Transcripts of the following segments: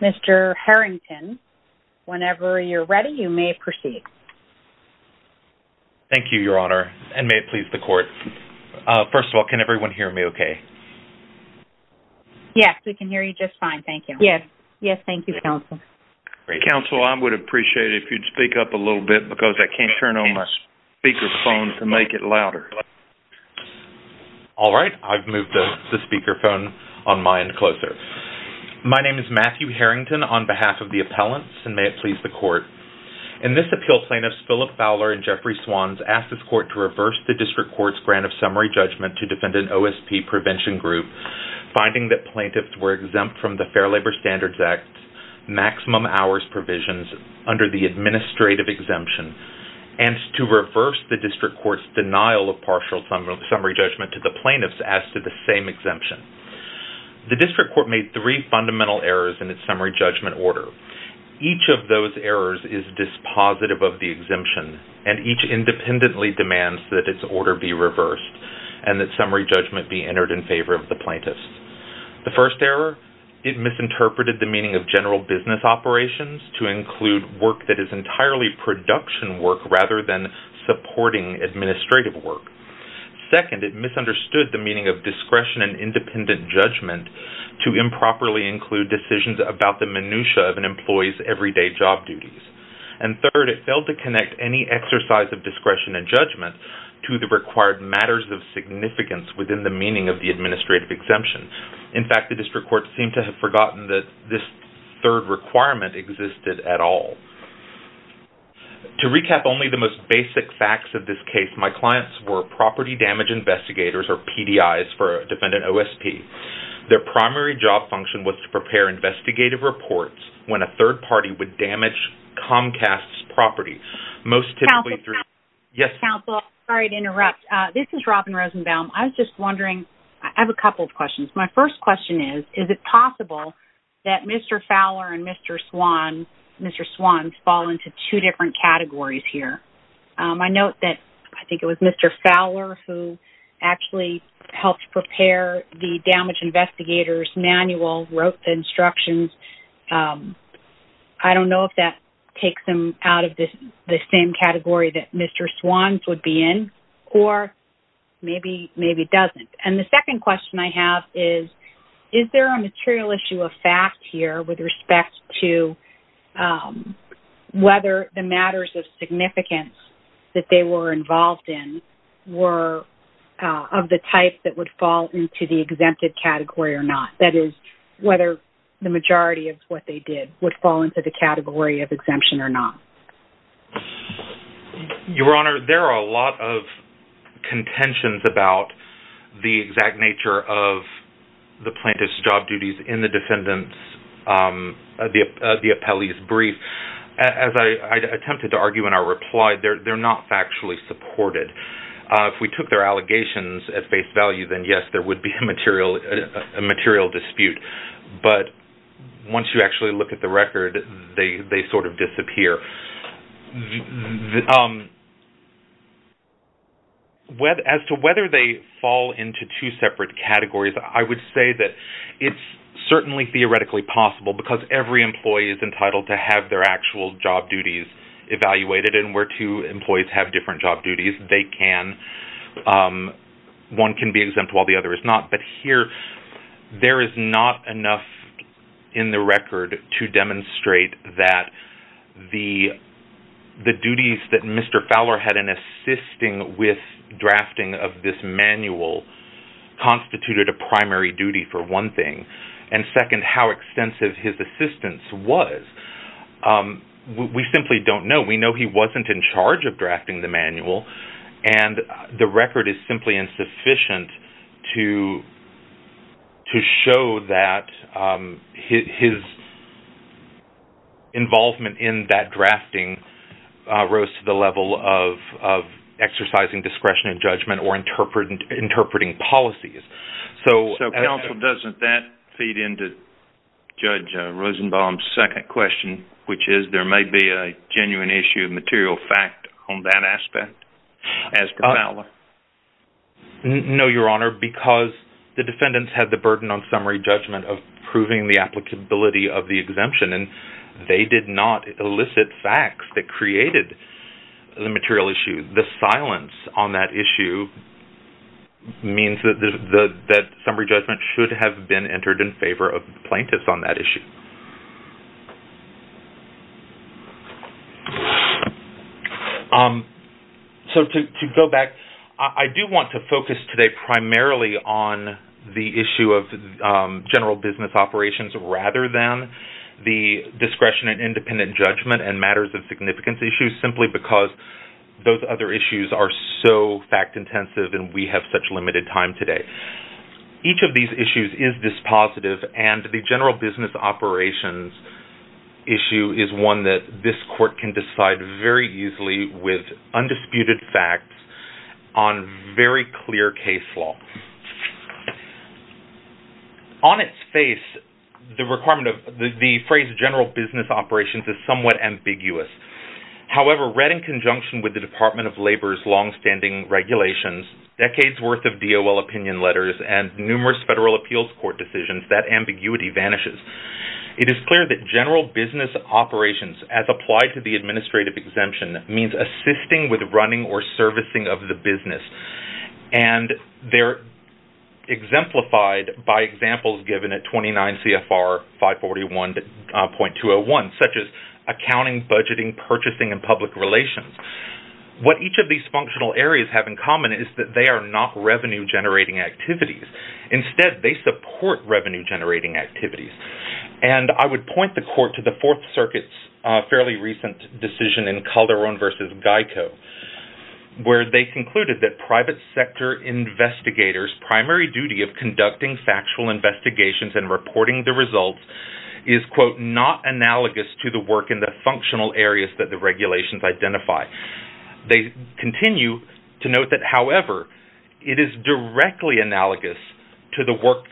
Mr. Harrington, whenever you're ready, you may proceed. Thank you, Your Honor, and may it please the Court. First of all, can everyone hear me okay? Yes, we can hear you just fine. Thank you. Yes, thank you, Counsel. Counsel, I would appreciate it if you'd speak up a little bit because I can't turn on my speaker phone to make it louder. All right, I've moved the speaker phone on my end closer. My name is Matthew Harrington on behalf of the appellants, and may it please the Court. In this appeal, plaintiffs Phillip Fowler and Jeffrey Swans asked this Court to reverse the district court's grant of summary judgment to defend an OSP prevention group, finding that plaintiffs were exempt from the Fair Labor Standards Act's maximum hours provisions under the administrative exemption, and to grant partial summary judgment to the plaintiffs as to the same exemption. The district court made three fundamental errors in its summary judgment order. Each of those errors is dispositive of the exemption, and each independently demands that its order be reversed and that summary judgment be entered in favor of the plaintiffs. The first error, it misinterpreted the meaning of general business operations to include work that is entirely production work rather than supporting administrative work. Second, it misunderstood the meaning of discretion and independent judgment to improperly include decisions about the minutiae of an employee's everyday job duties. And third, it failed to connect any exercise of discretion and judgment to the required matters of significance within the meaning of the administrative exemption. In fact, the district court seemed to have forgotten that this third requirement existed at all. To recap only the most basic facts of this case, my clients were property damage investigators, or PDIs, for defendant OSP. Their primary job function was to prepare investigative reports when a third party would damage Comcast's property, most typically through- This is Robin Rosenbaum. I was just wondering, I have a couple of questions. My first question is, is it possible that Mr. Fowler and Mr. Swans fall into two different categories here? I note that I think it was Mr. Fowler who actually helped prepare the damage investigators manual, wrote the instructions. I don't know if that takes them out of the same category that Mr. Swans would be in, or maybe doesn't. And the second question I have is, is there a material issue of fact here with respect to whether the matters of significance that they were involved in were of the type that would fall into the exempted category or not? That is, whether the majority of what they did would fall into the category of exemption or not. Your Honor, there are a lot of contentions about the exact nature of the plaintiff's job duties in the defendant's brief. As I attempted to argue in our reply, they're not factually supported. If we took their allegations at face value, then yes, there would be a material dispute. But once you actually look at the record, they sort of disappear. As to whether they fall into two separate categories, I would say that it's certainly theoretically possible, because every employee is entitled to have their actual job duties evaluated. And where two employees have different job duties, they can. One can be exempt while the other is not. But here, there is not enough in the record to demonstrate that the duties that Mr. Fowler had in assisting with drafting the manual constituted a primary duty for one thing, and second, how extensive his assistance was. We simply don't know. We know he wasn't in charge of drafting the manual, and the record is simply insufficient to show that his involvement in that drafting rose to the level of exercising discretion and judgment or interpreting policies. So Counsel, doesn't that feed into Judge Rosenbaum's second question, which is there may be a genuine issue of material fact on that aspect, as per Fowler? No, Your Honor, because the defendants had the burden on summary judgment of proving the applicability of the exemption, and they did not elicit facts that created the material issue. The silence on that issue means that summary judgment should have been entered in favor of plaintiffs on that issue. So to go back, I do want to focus today primarily on the issue of general business operations rather than the discretion and independent judgment and matters of significance issues, simply because those other issues are so fact-intensive and we have such limited time today. Each of these issues is dispositive, and the general business operations issue is one that this Court can decide very easily with undisputed facts on very clear case law. On its face, the phrase general business operations is somewhat ambiguous. However, read in conjunction with the Department of Labor's longstanding regulations, decades' worth of DOL opinion letters, and numerous federal appeals court decisions, that ambiguity vanishes. It is clear that general business operations, as applied to the administrative exemption, means assisting with running or servicing of the business, and they're exemplified by examples given at 29 .201, such as accounting, budgeting, purchasing, and public relations. What each of these functional areas have in common is that they are not revenue-generating activities. Instead, they support revenue-generating activities. And I would point the Court to the Fourth Circuit's fairly recent decision in Calderon v. Geico, where they concluded that private sector investigators' primary duty of conducting factual investigations and reporting the results is, quote, not analogous to the work in the functional areas that the regulations identify. They continue to note that, however, it is directly analogous to the work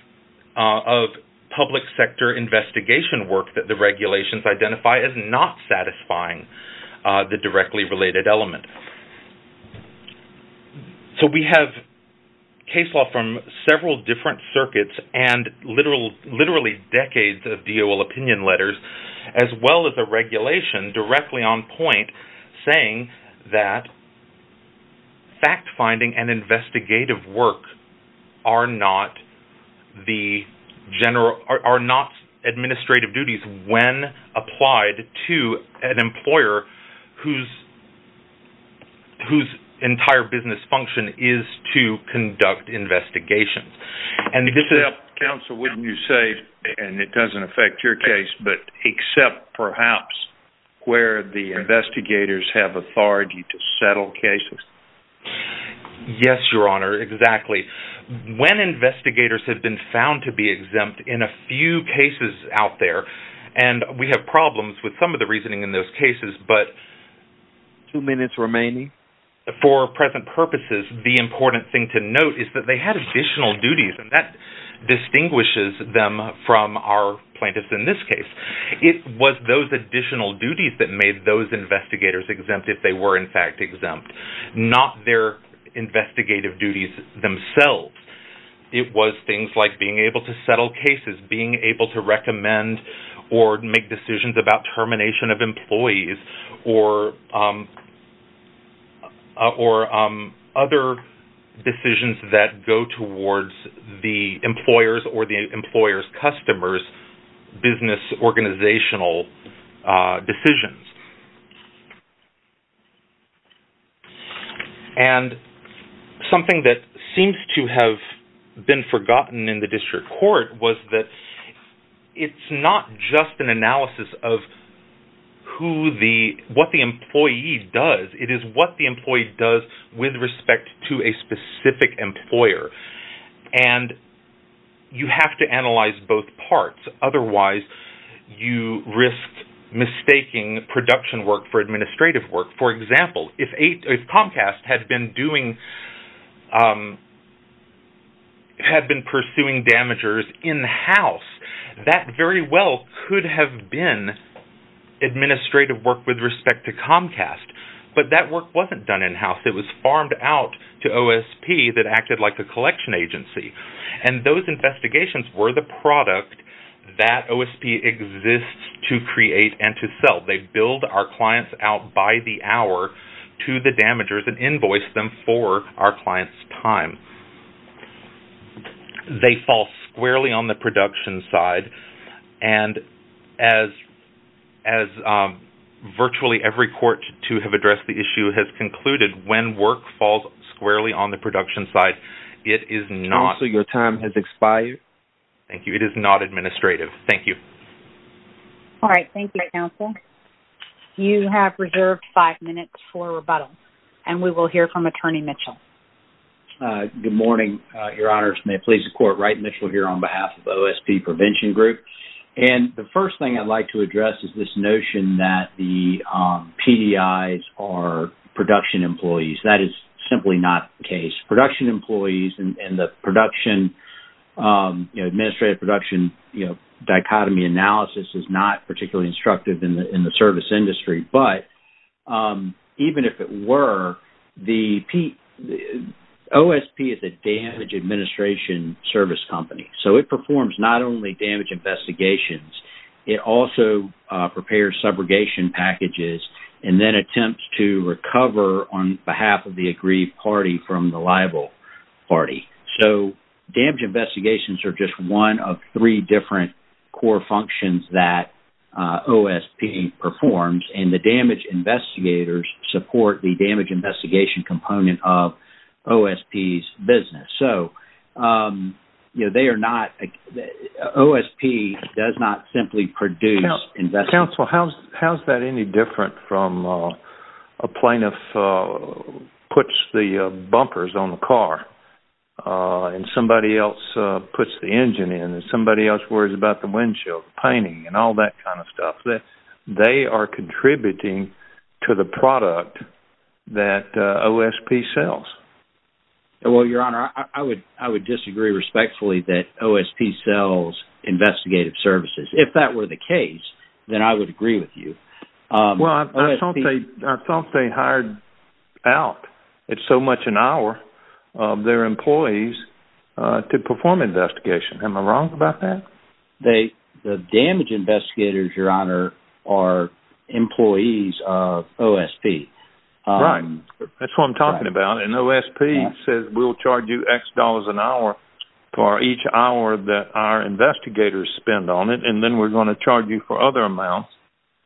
of public sector investigation work that the regulations identify as not satisfying the directly related element. So we have case law from several different circuits and literally decades of DOL opinion letters, as well as a regulation directly on point saying that fact-finding and investigative work are not administrative duties when applied to an employer whose entire business function is to conduct investigations. And it doesn't affect your case, but except perhaps where the investigators have authority to settle cases? Yes, Your Honor, exactly. When investigators have been found to be exempt in a few cases out there, and we have problems with some of the reasoning in those cases, but for present purposes, the important thing to note is that they had additional duties, and that distinguishes them from our plaintiffs in this case. It was those additional duties that made those investigators exempt if they were, in fact, exempt, not their investigative duties themselves. It was things like being able to settle cases, being able to recommend or make decisions about termination of employees or other decisions that go towards the employer's or the employer's customers' business organizational decisions. And something that seems to have been forgotten in the district court was that it's not just an analysis of what the employee does. It is what the employee does with respect to a specific employer. And you have to analyze both parts. Otherwise, you risk mistaking production work for administrative work. For example, if Comcast had been pursuing damagers in-house, that very well could have been administrative work with respect to Comcast. But that work wasn't done in-house. It was farmed out to OSP that acted like a collection agency. And those investigations were the product that OSP exists to create and to sell. They build our clients out by the hour to the damagers and invoice them for our clients' time. They fall squarely on the production side. And as virtually every court to have addressed the issue has concluded, when work falls squarely on the production side, it is not... Counsel, your time has expired. Thank you. It is not administrative. Thank you. All right. Thank you, Counsel. You have reserved five minutes for rebuttal. And we will hear from Attorney Mitchell. Good morning, Your Honors. May it please the Court, Wright Mitchell here on behalf of OSP Prevention Group. And the first thing I'd like to address is this notion that the PDIs are production employees. That is simply not the case. Production employees and the production administrative production dichotomy analysis is not particularly instructive in the service industry. But even if it were, OSP is a damage administration service company. So it performs not only damage investigations. It also prepares subrogation packages and then attempts to recover on behalf of the aggrieved party from the liable party. So damage investigations are just one of three different core functions that OSP performs. And the damage investigators support the damage investigation component of OSP's business. So they are not... OSP does not simply produce... Counsel, how's that any different from a plaintiff puts the bumpers on the car and somebody else puts the engine in and somebody else worries about the windshield, the painting, and all that kind of stuff. They are contributing to the product that OSP sells. Well, Your Honor, I would disagree respectfully that OSP sells investigative services. If that were the case, then I would agree with you. I thought they hired out at so much an hour their employees to perform investigation. Am I wrong about that? The damage investigators, Your Honor, are employees of OSP. Right. That's what I'm talking about. And OSP says we'll charge you X dollars an hour for each hour that our investigators spend on it. And then we're going to charge you for other amounts.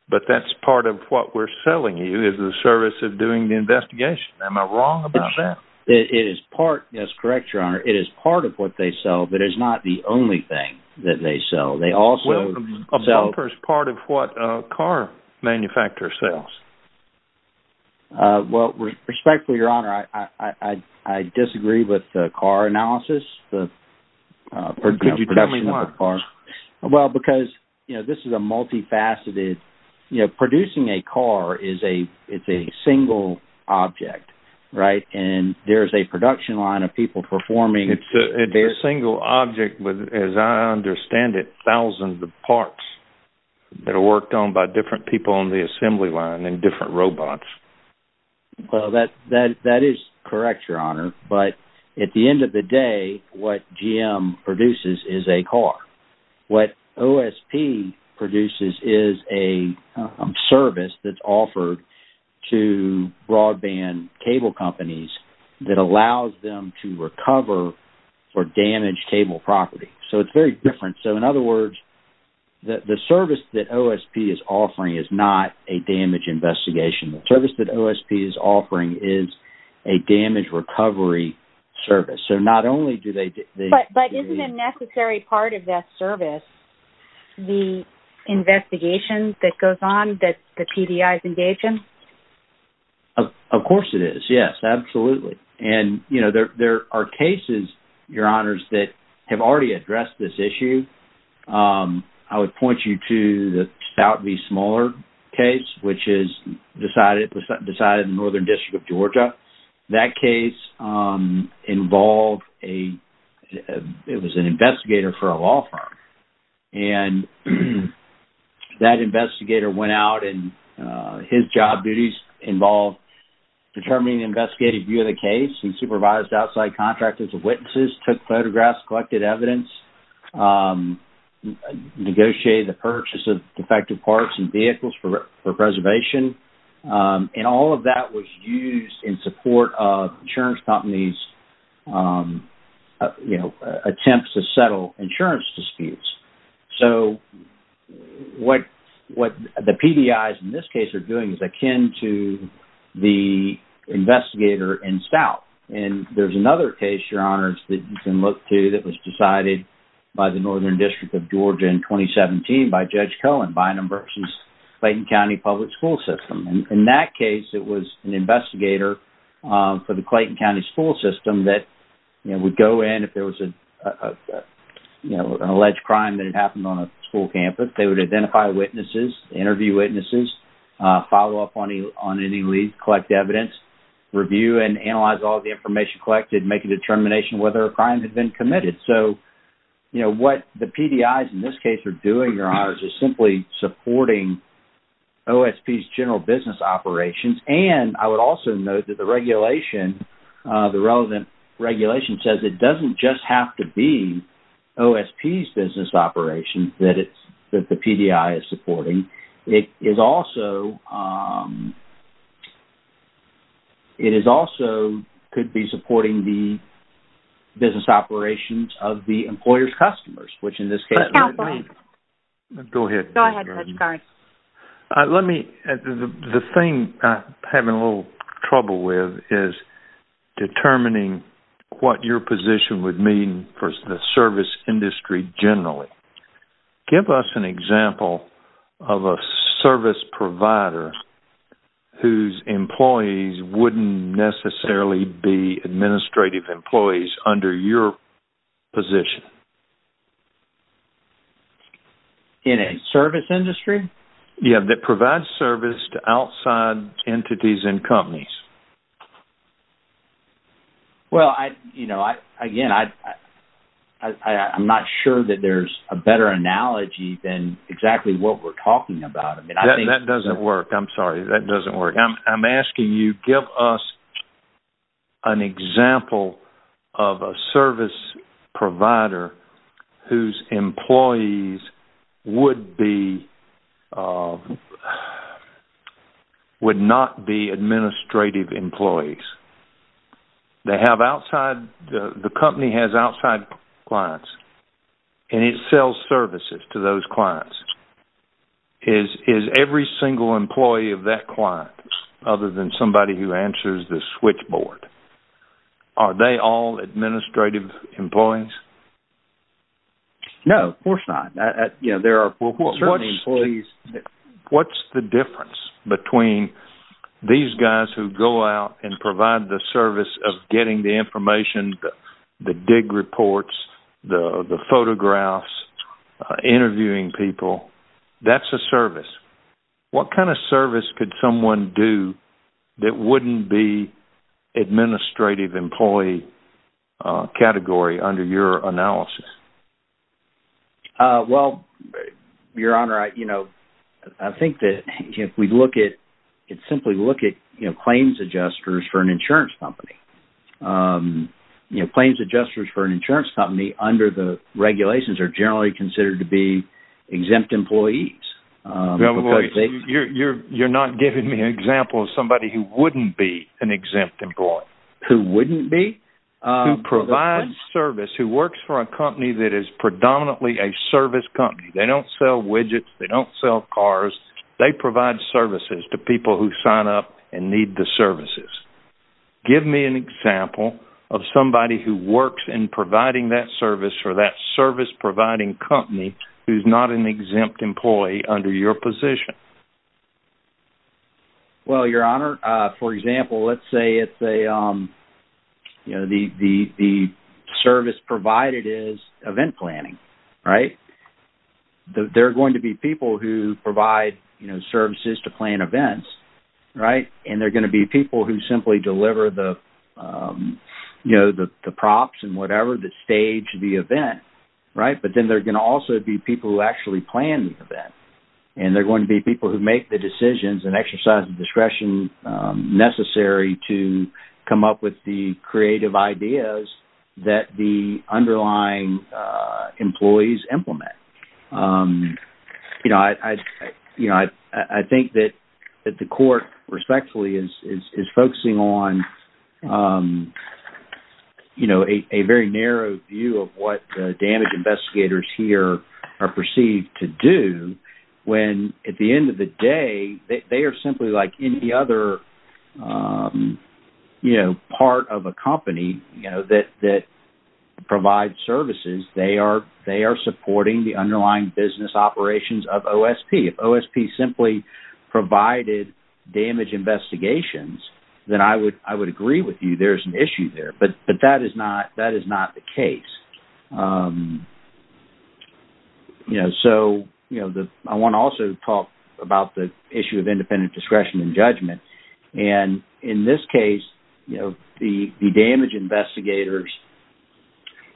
But that's part of what we're selling you is the service of doing the investigation. Am I wrong about that? It is part... That's correct, Your Honor. It is part of what they sell, but it's not the only thing that they sell. Well, a bumper is part of what a car manufacturer sells. Well, respectfully, Your Honor, I disagree with the car analysis. Could you tell me why? Well, because this is a multifaceted... Producing a car is a single object, right? And there's a production line of people performing... It's a single object, but as I understand it, thousands of parts that are worked on by different people on the assembly line and different robots. Well, that is correct, Your Honor. But at the end of the day, what GM produces is a car. What OSP produces is a service that's offered to broadband cable companies that allows them to recover or damage cable property. So it's very different. So in other words, the service that OSP is offering is not a damage investigation. The service that OSP is offering is a damage recovery service. So not only do they... But isn't a necessary part of that service the investigation that goes on that the PDI is engaged in? Of course it is, yes. Absolutely. And there are cases, Your Honors, that have already addressed this issue. I would point you to the South V. Smollard case, which is decided in the Northern District of Georgia. That case involved a... It was an investigator for a law firm. And that investigator went out, and his job duties involved determining the investigative view of the case. He supervised outside contractors and witnesses, took photographs, collected evidence, negotiated the purchase of defective parts and vehicles for preservation. And all of that was used in support of insurance companies attempts to settle insurance disputes. So what the PDIs in this case are doing is akin to the investigator in Stout. And there's another case, Your Honors, that you can look to that was decided by the Northern District of Georgia in 2017 by Judge Cohen Bynum v. Clayton County Public School System. In that case it was an investigator for the Clayton County School System that would go in if there was an alleged crime that had happened on a school campus. They would identify witnesses, interview witnesses, follow up on any leads, collect evidence, review and analyze all the information collected, make a determination whether a crime had been committed. So what the PDIs in this case are doing, Your Honors, is simply supporting OSP's general business operations. And I would also note that the regulation, the relevant regulation, says it doesn't just have to be OSP's business operations that the PDI is supporting. It is also it is also could be supporting the business operations of the employer's customers, which in this case- Go ahead. Let me- the thing I'm having a little trouble with is determining what your position would mean for the service industry generally. Give us an example of a service provider whose employees wouldn't necessarily be administrative employees under your position. In a service industry? Yeah, that provides service to outside entities and companies. Well, you know, again, I'm not sure that there's a better analogy than exactly what we're talking about. That doesn't work. I'm sorry. That doesn't work. I'm asking you give us an example of a service provider whose employees would be- would not be administrative employees. They have outside- the company has outside clients, and it sells services to those clients. Is every single employee of that client, other than somebody who answers the switchboard, are they all administrative employees? No, of course not. What's the difference between these guys who go out and provide the service of getting the information, the dig reports, the photographs, interviewing people? That's a service. What kind of service could someone do that wouldn't be administrative employee category under your analysis? Well, Your Honor, you know, I think that if we look at- simply look at claims adjusters for an insurance company. Claims adjusters for an insurance company under the regulations are generally considered to be exempt employees. You're not giving me an example of somebody who wouldn't be an exempt employee. Who wouldn't be? Who provides service, who works for a company that is predominantly a service company. They don't sell widgets. They don't sell cars. They provide services to people who sign up and need the services. Give me an example of somebody who works in providing that service for that service-providing company who's not an exempt employee under your position. Well, Your Honor, for example, let's say the service provided is event planning, right? They're going to be people who provide services to plan events, right? And they're going to be people who simply deliver the props and whatever that stage the event, right? But then they're going to also be people who actually plan the event. And they're going to be people who make the decisions and exercise the discretion necessary to come up with the creative ideas that the underlying employees implement. I think that the court respectfully is focusing on a very narrow view of what the damage investigators here are perceived to do when at the end of the day, they are simply like any other part of a company that provides services. They are supporting the underlying business operations of OSP. If OSP simply provided damage investigations, then I would agree with you there's an issue there. But that is not the case. I want to also talk about the issue of independent discretion and judgment. And in this case, the damage investigators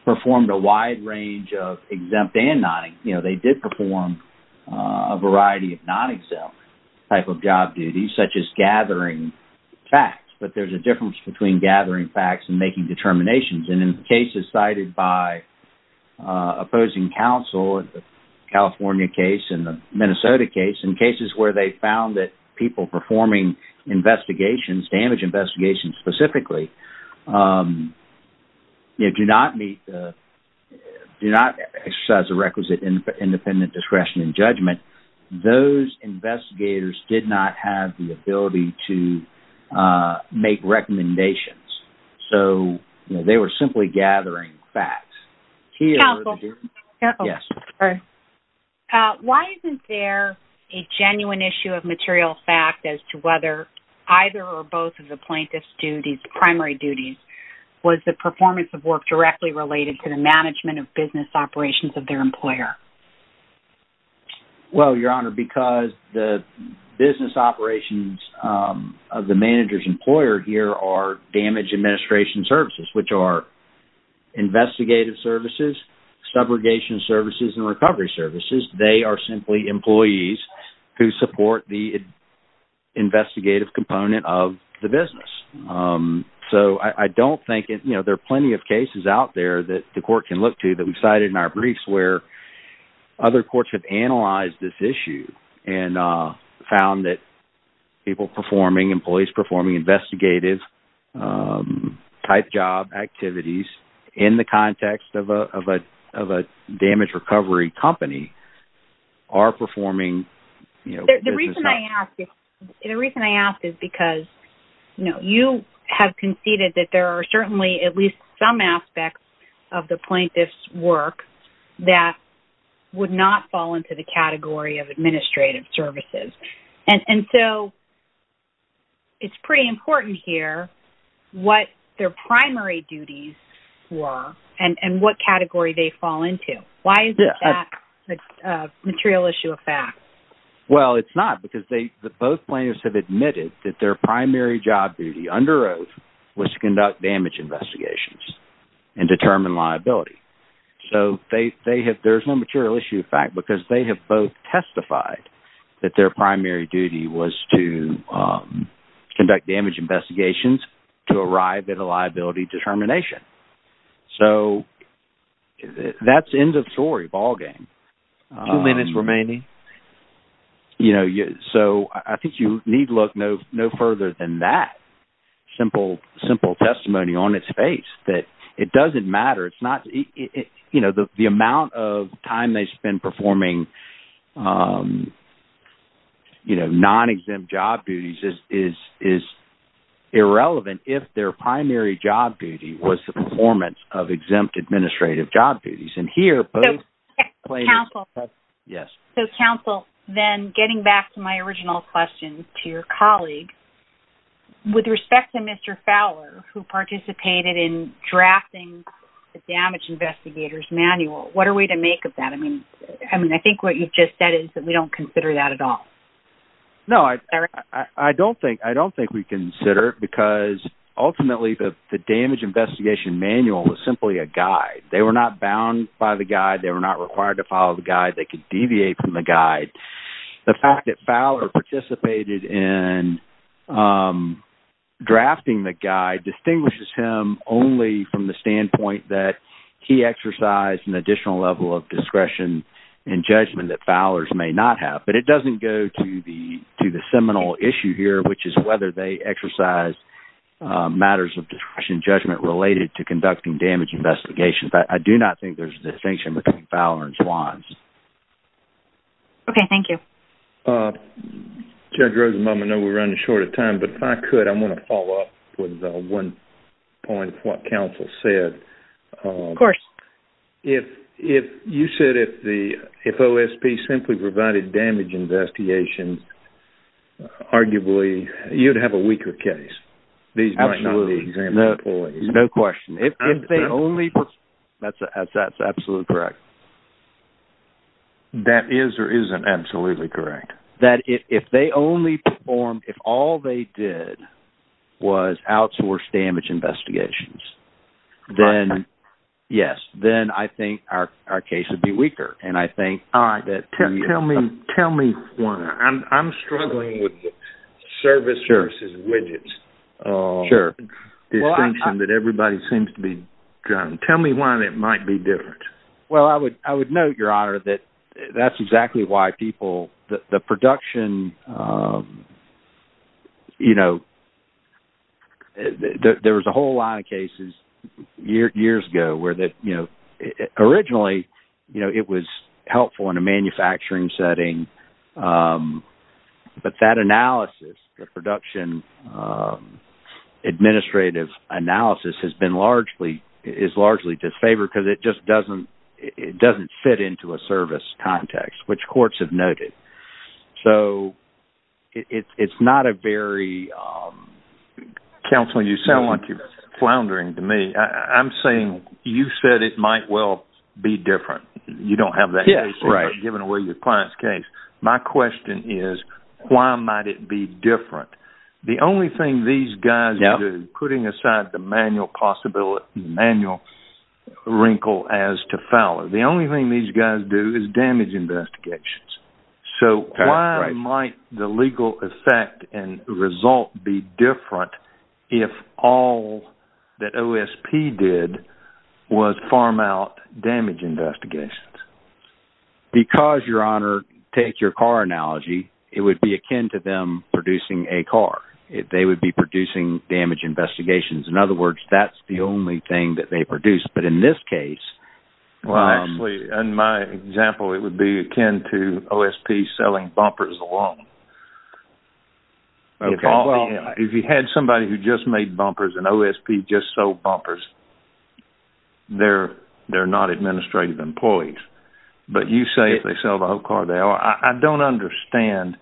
performed a wide range of exempt and not. They did perform a variety of non-exempt type of job duties such as gathering facts. But there's a difference between gathering facts and making determinations. And in cases cited by opposing counsel, the California case and the Minnesota case, in cases where they found that people performing investigations, damage investigations specifically, do not exercise a requisite independent discretion and judgment, those investigators did not have the ability to make recommendations. So they were simply gathering facts. Why isn't there a genuine issue of material fact as to whether either or both of the plaintiff's duties, primary duties, was the performance of work directly related to the management of business operations of their employer? Well, Your Honor, because the business operations of the manager's employer here are damage administration services, which are investigative services, subrogation services, and recovery services. They are simply employees who support the investigative component of the business. So I don't think there are plenty of cases out there that the court can look to that we've cited in our briefs where other courts have analyzed this issue and found that people performing, employees performing investigative type job activities in the context of a damage recovery company are performing... The reason I ask is because you have conceded that there are certainly at least some aspects of the plaintiff's work that would not fall into the category of administrative services. And so it's pretty important here what their primary duties were and what category they fall into. Why is that a material issue of fact? Well, it's not because both plaintiffs have admitted that their primary job duty under oath was to conduct damage investigations and determine liability. So there's no material issue of fact because they have both testified that their primary duty was to conduct damage investigations to arrive at a liability determination. So that's the end of the story. Ball game. Two minutes remaining. So I think you need look no further than that. Simple testimony on its face that it doesn't matter. The amount of time they spend performing non-exempt job duties is irrelevant if their performance of exempt administrative job duties. So, counsel, then getting back to my original question to your colleague, with respect to Mr. Fowler who participated in drafting the damage investigators manual, what are we to make of that? I think what you've just said is that we don't consider that at all. No, I don't think we consider because ultimately the damage investigation manual was simply a guide. They were not bound by the guide. They were not required to follow the guide. They could deviate from the guide. The fact that Fowler participated in drafting the guide distinguishes him only from the standpoint that he exercised an additional level of discretion and judgment that Fowlers may not have. But it doesn't go to the seminal issue here, which is whether they exercised matters of discretion and judgment related to conducting damage investigations. I do not think there's a distinction between Fowler and Swans. Okay, thank you. Judge Rosenbaum, I know we're running short of time, but if I could, I want to follow up with one point of what counsel said. Of course. You said if OSP simply provided damage investigations, then arguably you'd have a weaker case. Absolutely. No question. That's absolutely correct. That is or isn't absolutely correct. If all they did was outsource I think our case would be weaker. Tell me why. I'm struggling with service versus widgets. Sure. Tell me why that might be different. I would note, Your Honor, that's exactly why people the production there was a whole lot of cases years ago where originally it was helpful in a manufacturing setting, but that analysis the production administrative analysis is largely disfavored because it just doesn't fit into a service context, which courts have noted. It's not a very Counsel, you sound like you're floundering to me. I'm saying you said it might well be different. You don't have that case. You're giving away your client's case. My question is, why might it be different? The only thing these guys do, putting aside the manual possibility wrinkle as to Fowler, the only thing these guys do is damage investigations. Why might the legal effect and result be different if all that OSP did was farm out damage investigations? Because, Your Honor, take your car analogy, it would be akin to them producing a car. They would be producing damage investigations. In other words, that's the only thing that they produce, but in this case Well, actually, in my example, it would be akin to OSP selling bumpers alone. If you had somebody who just made bumpers and OSP just sold bumpers, they're not administrative employees, but you say if they sell the whole car, they are. I don't understand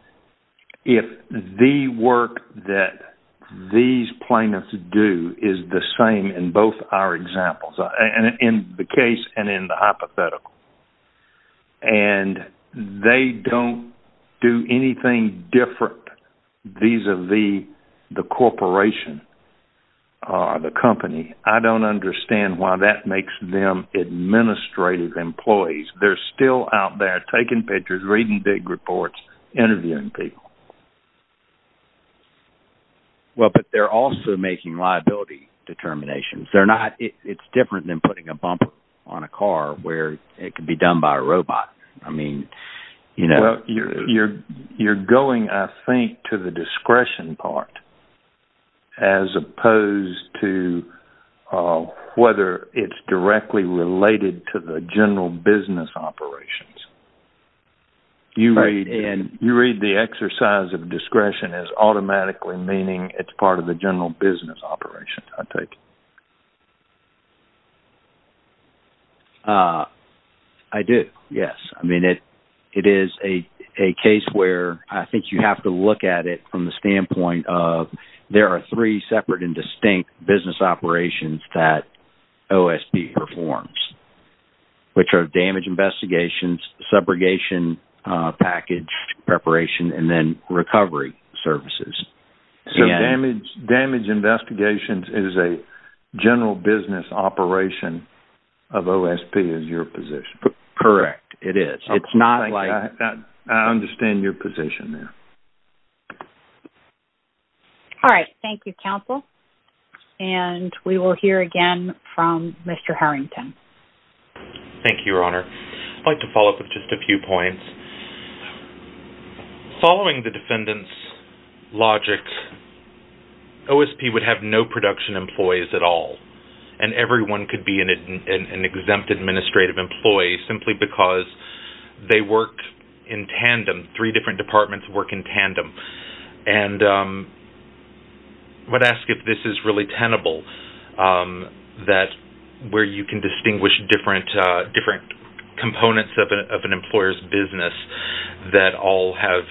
if the work that these plaintiffs do is the same in both our examples, in the case and in the hypothetical. And they don't do anything different vis-a-vis the corporation, the company. I don't understand why that makes them administrative employees. They're still out there taking pictures, reading big reports, interviewing people. Well, but they're also making liability determinations. It's different than putting a bumper on a car where it can be done by a robot. You're going, I think, to the discretion part, as opposed to whether it's directly related to the general business operations. You read the exercise of discretion as automatically meaning it's part of the general business operations, I take it. I do. Yes. I mean, it is a case where I think you have to look at it from the standpoint of there are three separate and distinct business operations that OSP performs, which are damage investigations, subrogation package preparation, and then recovery services. So damage investigations is a general business operation of OSP is your position. Correct. It is. I understand your position there. All right. Thank you, Counsel. And we will hear again from Mr. Harrington. Thank you, Your Honor. I'd like to follow up with just a few points. Following the defendant's logic, OSP would have no production employees at all, and everyone could be an exempt administrative employee simply because they work in tandem. Three different departments work in tandem. I would ask if this is really tenable, where you can distinguish different components of an employer's business that all have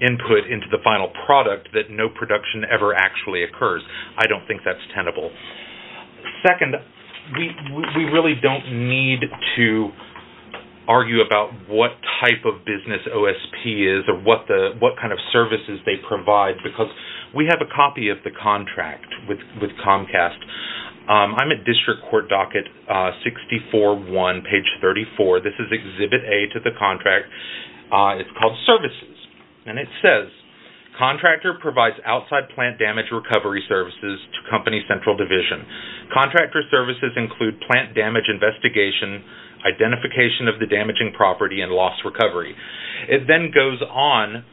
input into the final product that no production ever actually occurs. I don't think that's tenable. Second, we really don't need to argue about what type of business OSP is or what kind of services they provide because we have a copy of the contract with Comcast. I'm at District Court docket 64-1, page 34. This is exhibit A to the contract. It's called Services, and it says, Contractor provides outside plant damage recovery services to Company Central Division. Contractor services include plant damage investigation, identification of the damaging property, and loss recovery. It then goes on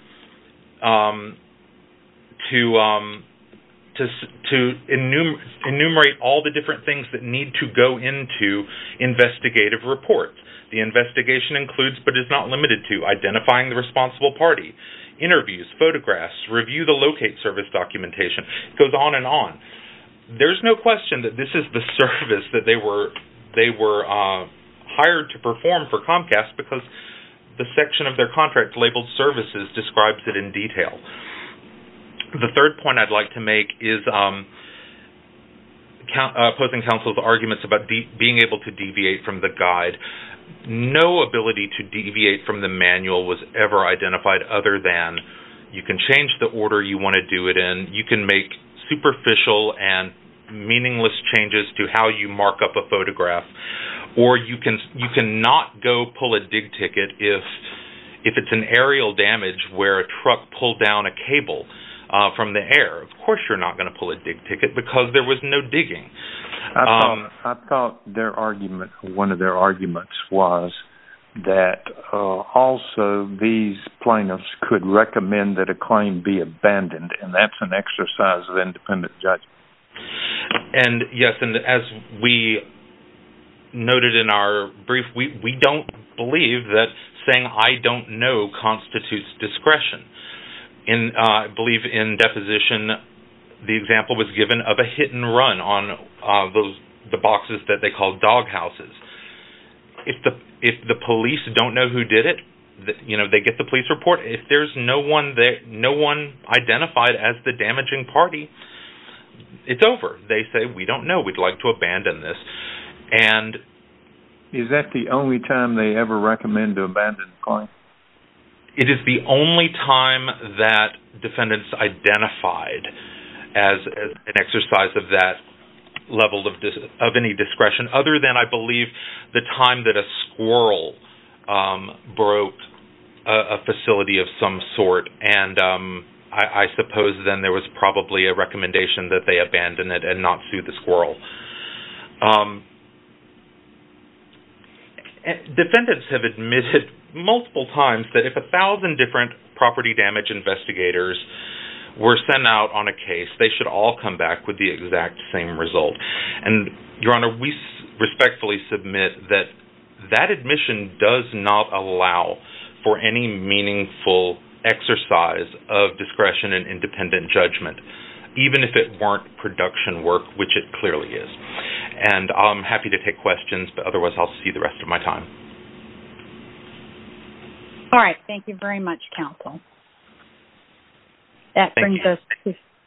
to enumerate all the different things that need to go into investigative reports. The investigation includes, but is not limited to, identifying the responsible party, interviews, photographs, review the locate service documentation. It goes on and on. There's no question that this is the service that they were hired to perform for Comcast because the section of their contract labeled services describes it in detail. The third point I'd like to make is opposing counsel's arguments about being able to deviate from the guide. No ability to deviate from the manual was ever identified other than you can change the order you want to do it in. You can make superficial and meaningless changes to how you mark up a photograph or you can not go pull a dig ticket if it's an aerial damage where a truck pulled down a cable from the air. Of course you're not going to pull a dig ticket because there was no way to do that. One of their arguments was that also these plaintiffs could recommend that a claim be abandoned and that's an exercise of independent judgment. Yes, and as we noted in our brief, we don't believe that saying I don't know constitutes discretion. I believe in deposition the example was given of a hit and run on the boxes that they called dog houses. If the police don't know who did it, they get the police report. If there's no one identified as the damaging party, it's over. They say we don't know. We'd like to abandon this. Is that the only time they ever recommend to abandon a claim? It is the only time that defendants identified as an exercise of that level of any discretion other than I believe the time that a squirrel broke a facility of some sort and I suppose then there was probably a recommendation that they abandon it and not sue the squirrel. Defendants have admitted multiple times that if a thousand different property damage investigators were sent out on a case, they should all come back with the exact same result. Your Honor, we respectfully submit that that admission does not allow for any meaningful exercise of discretion and independent judgment, even if it weren't production work, which it clearly is. I'm happy to take questions, but otherwise I'll see the rest of my time. All right. Thank you very much, counsel. That brings us to...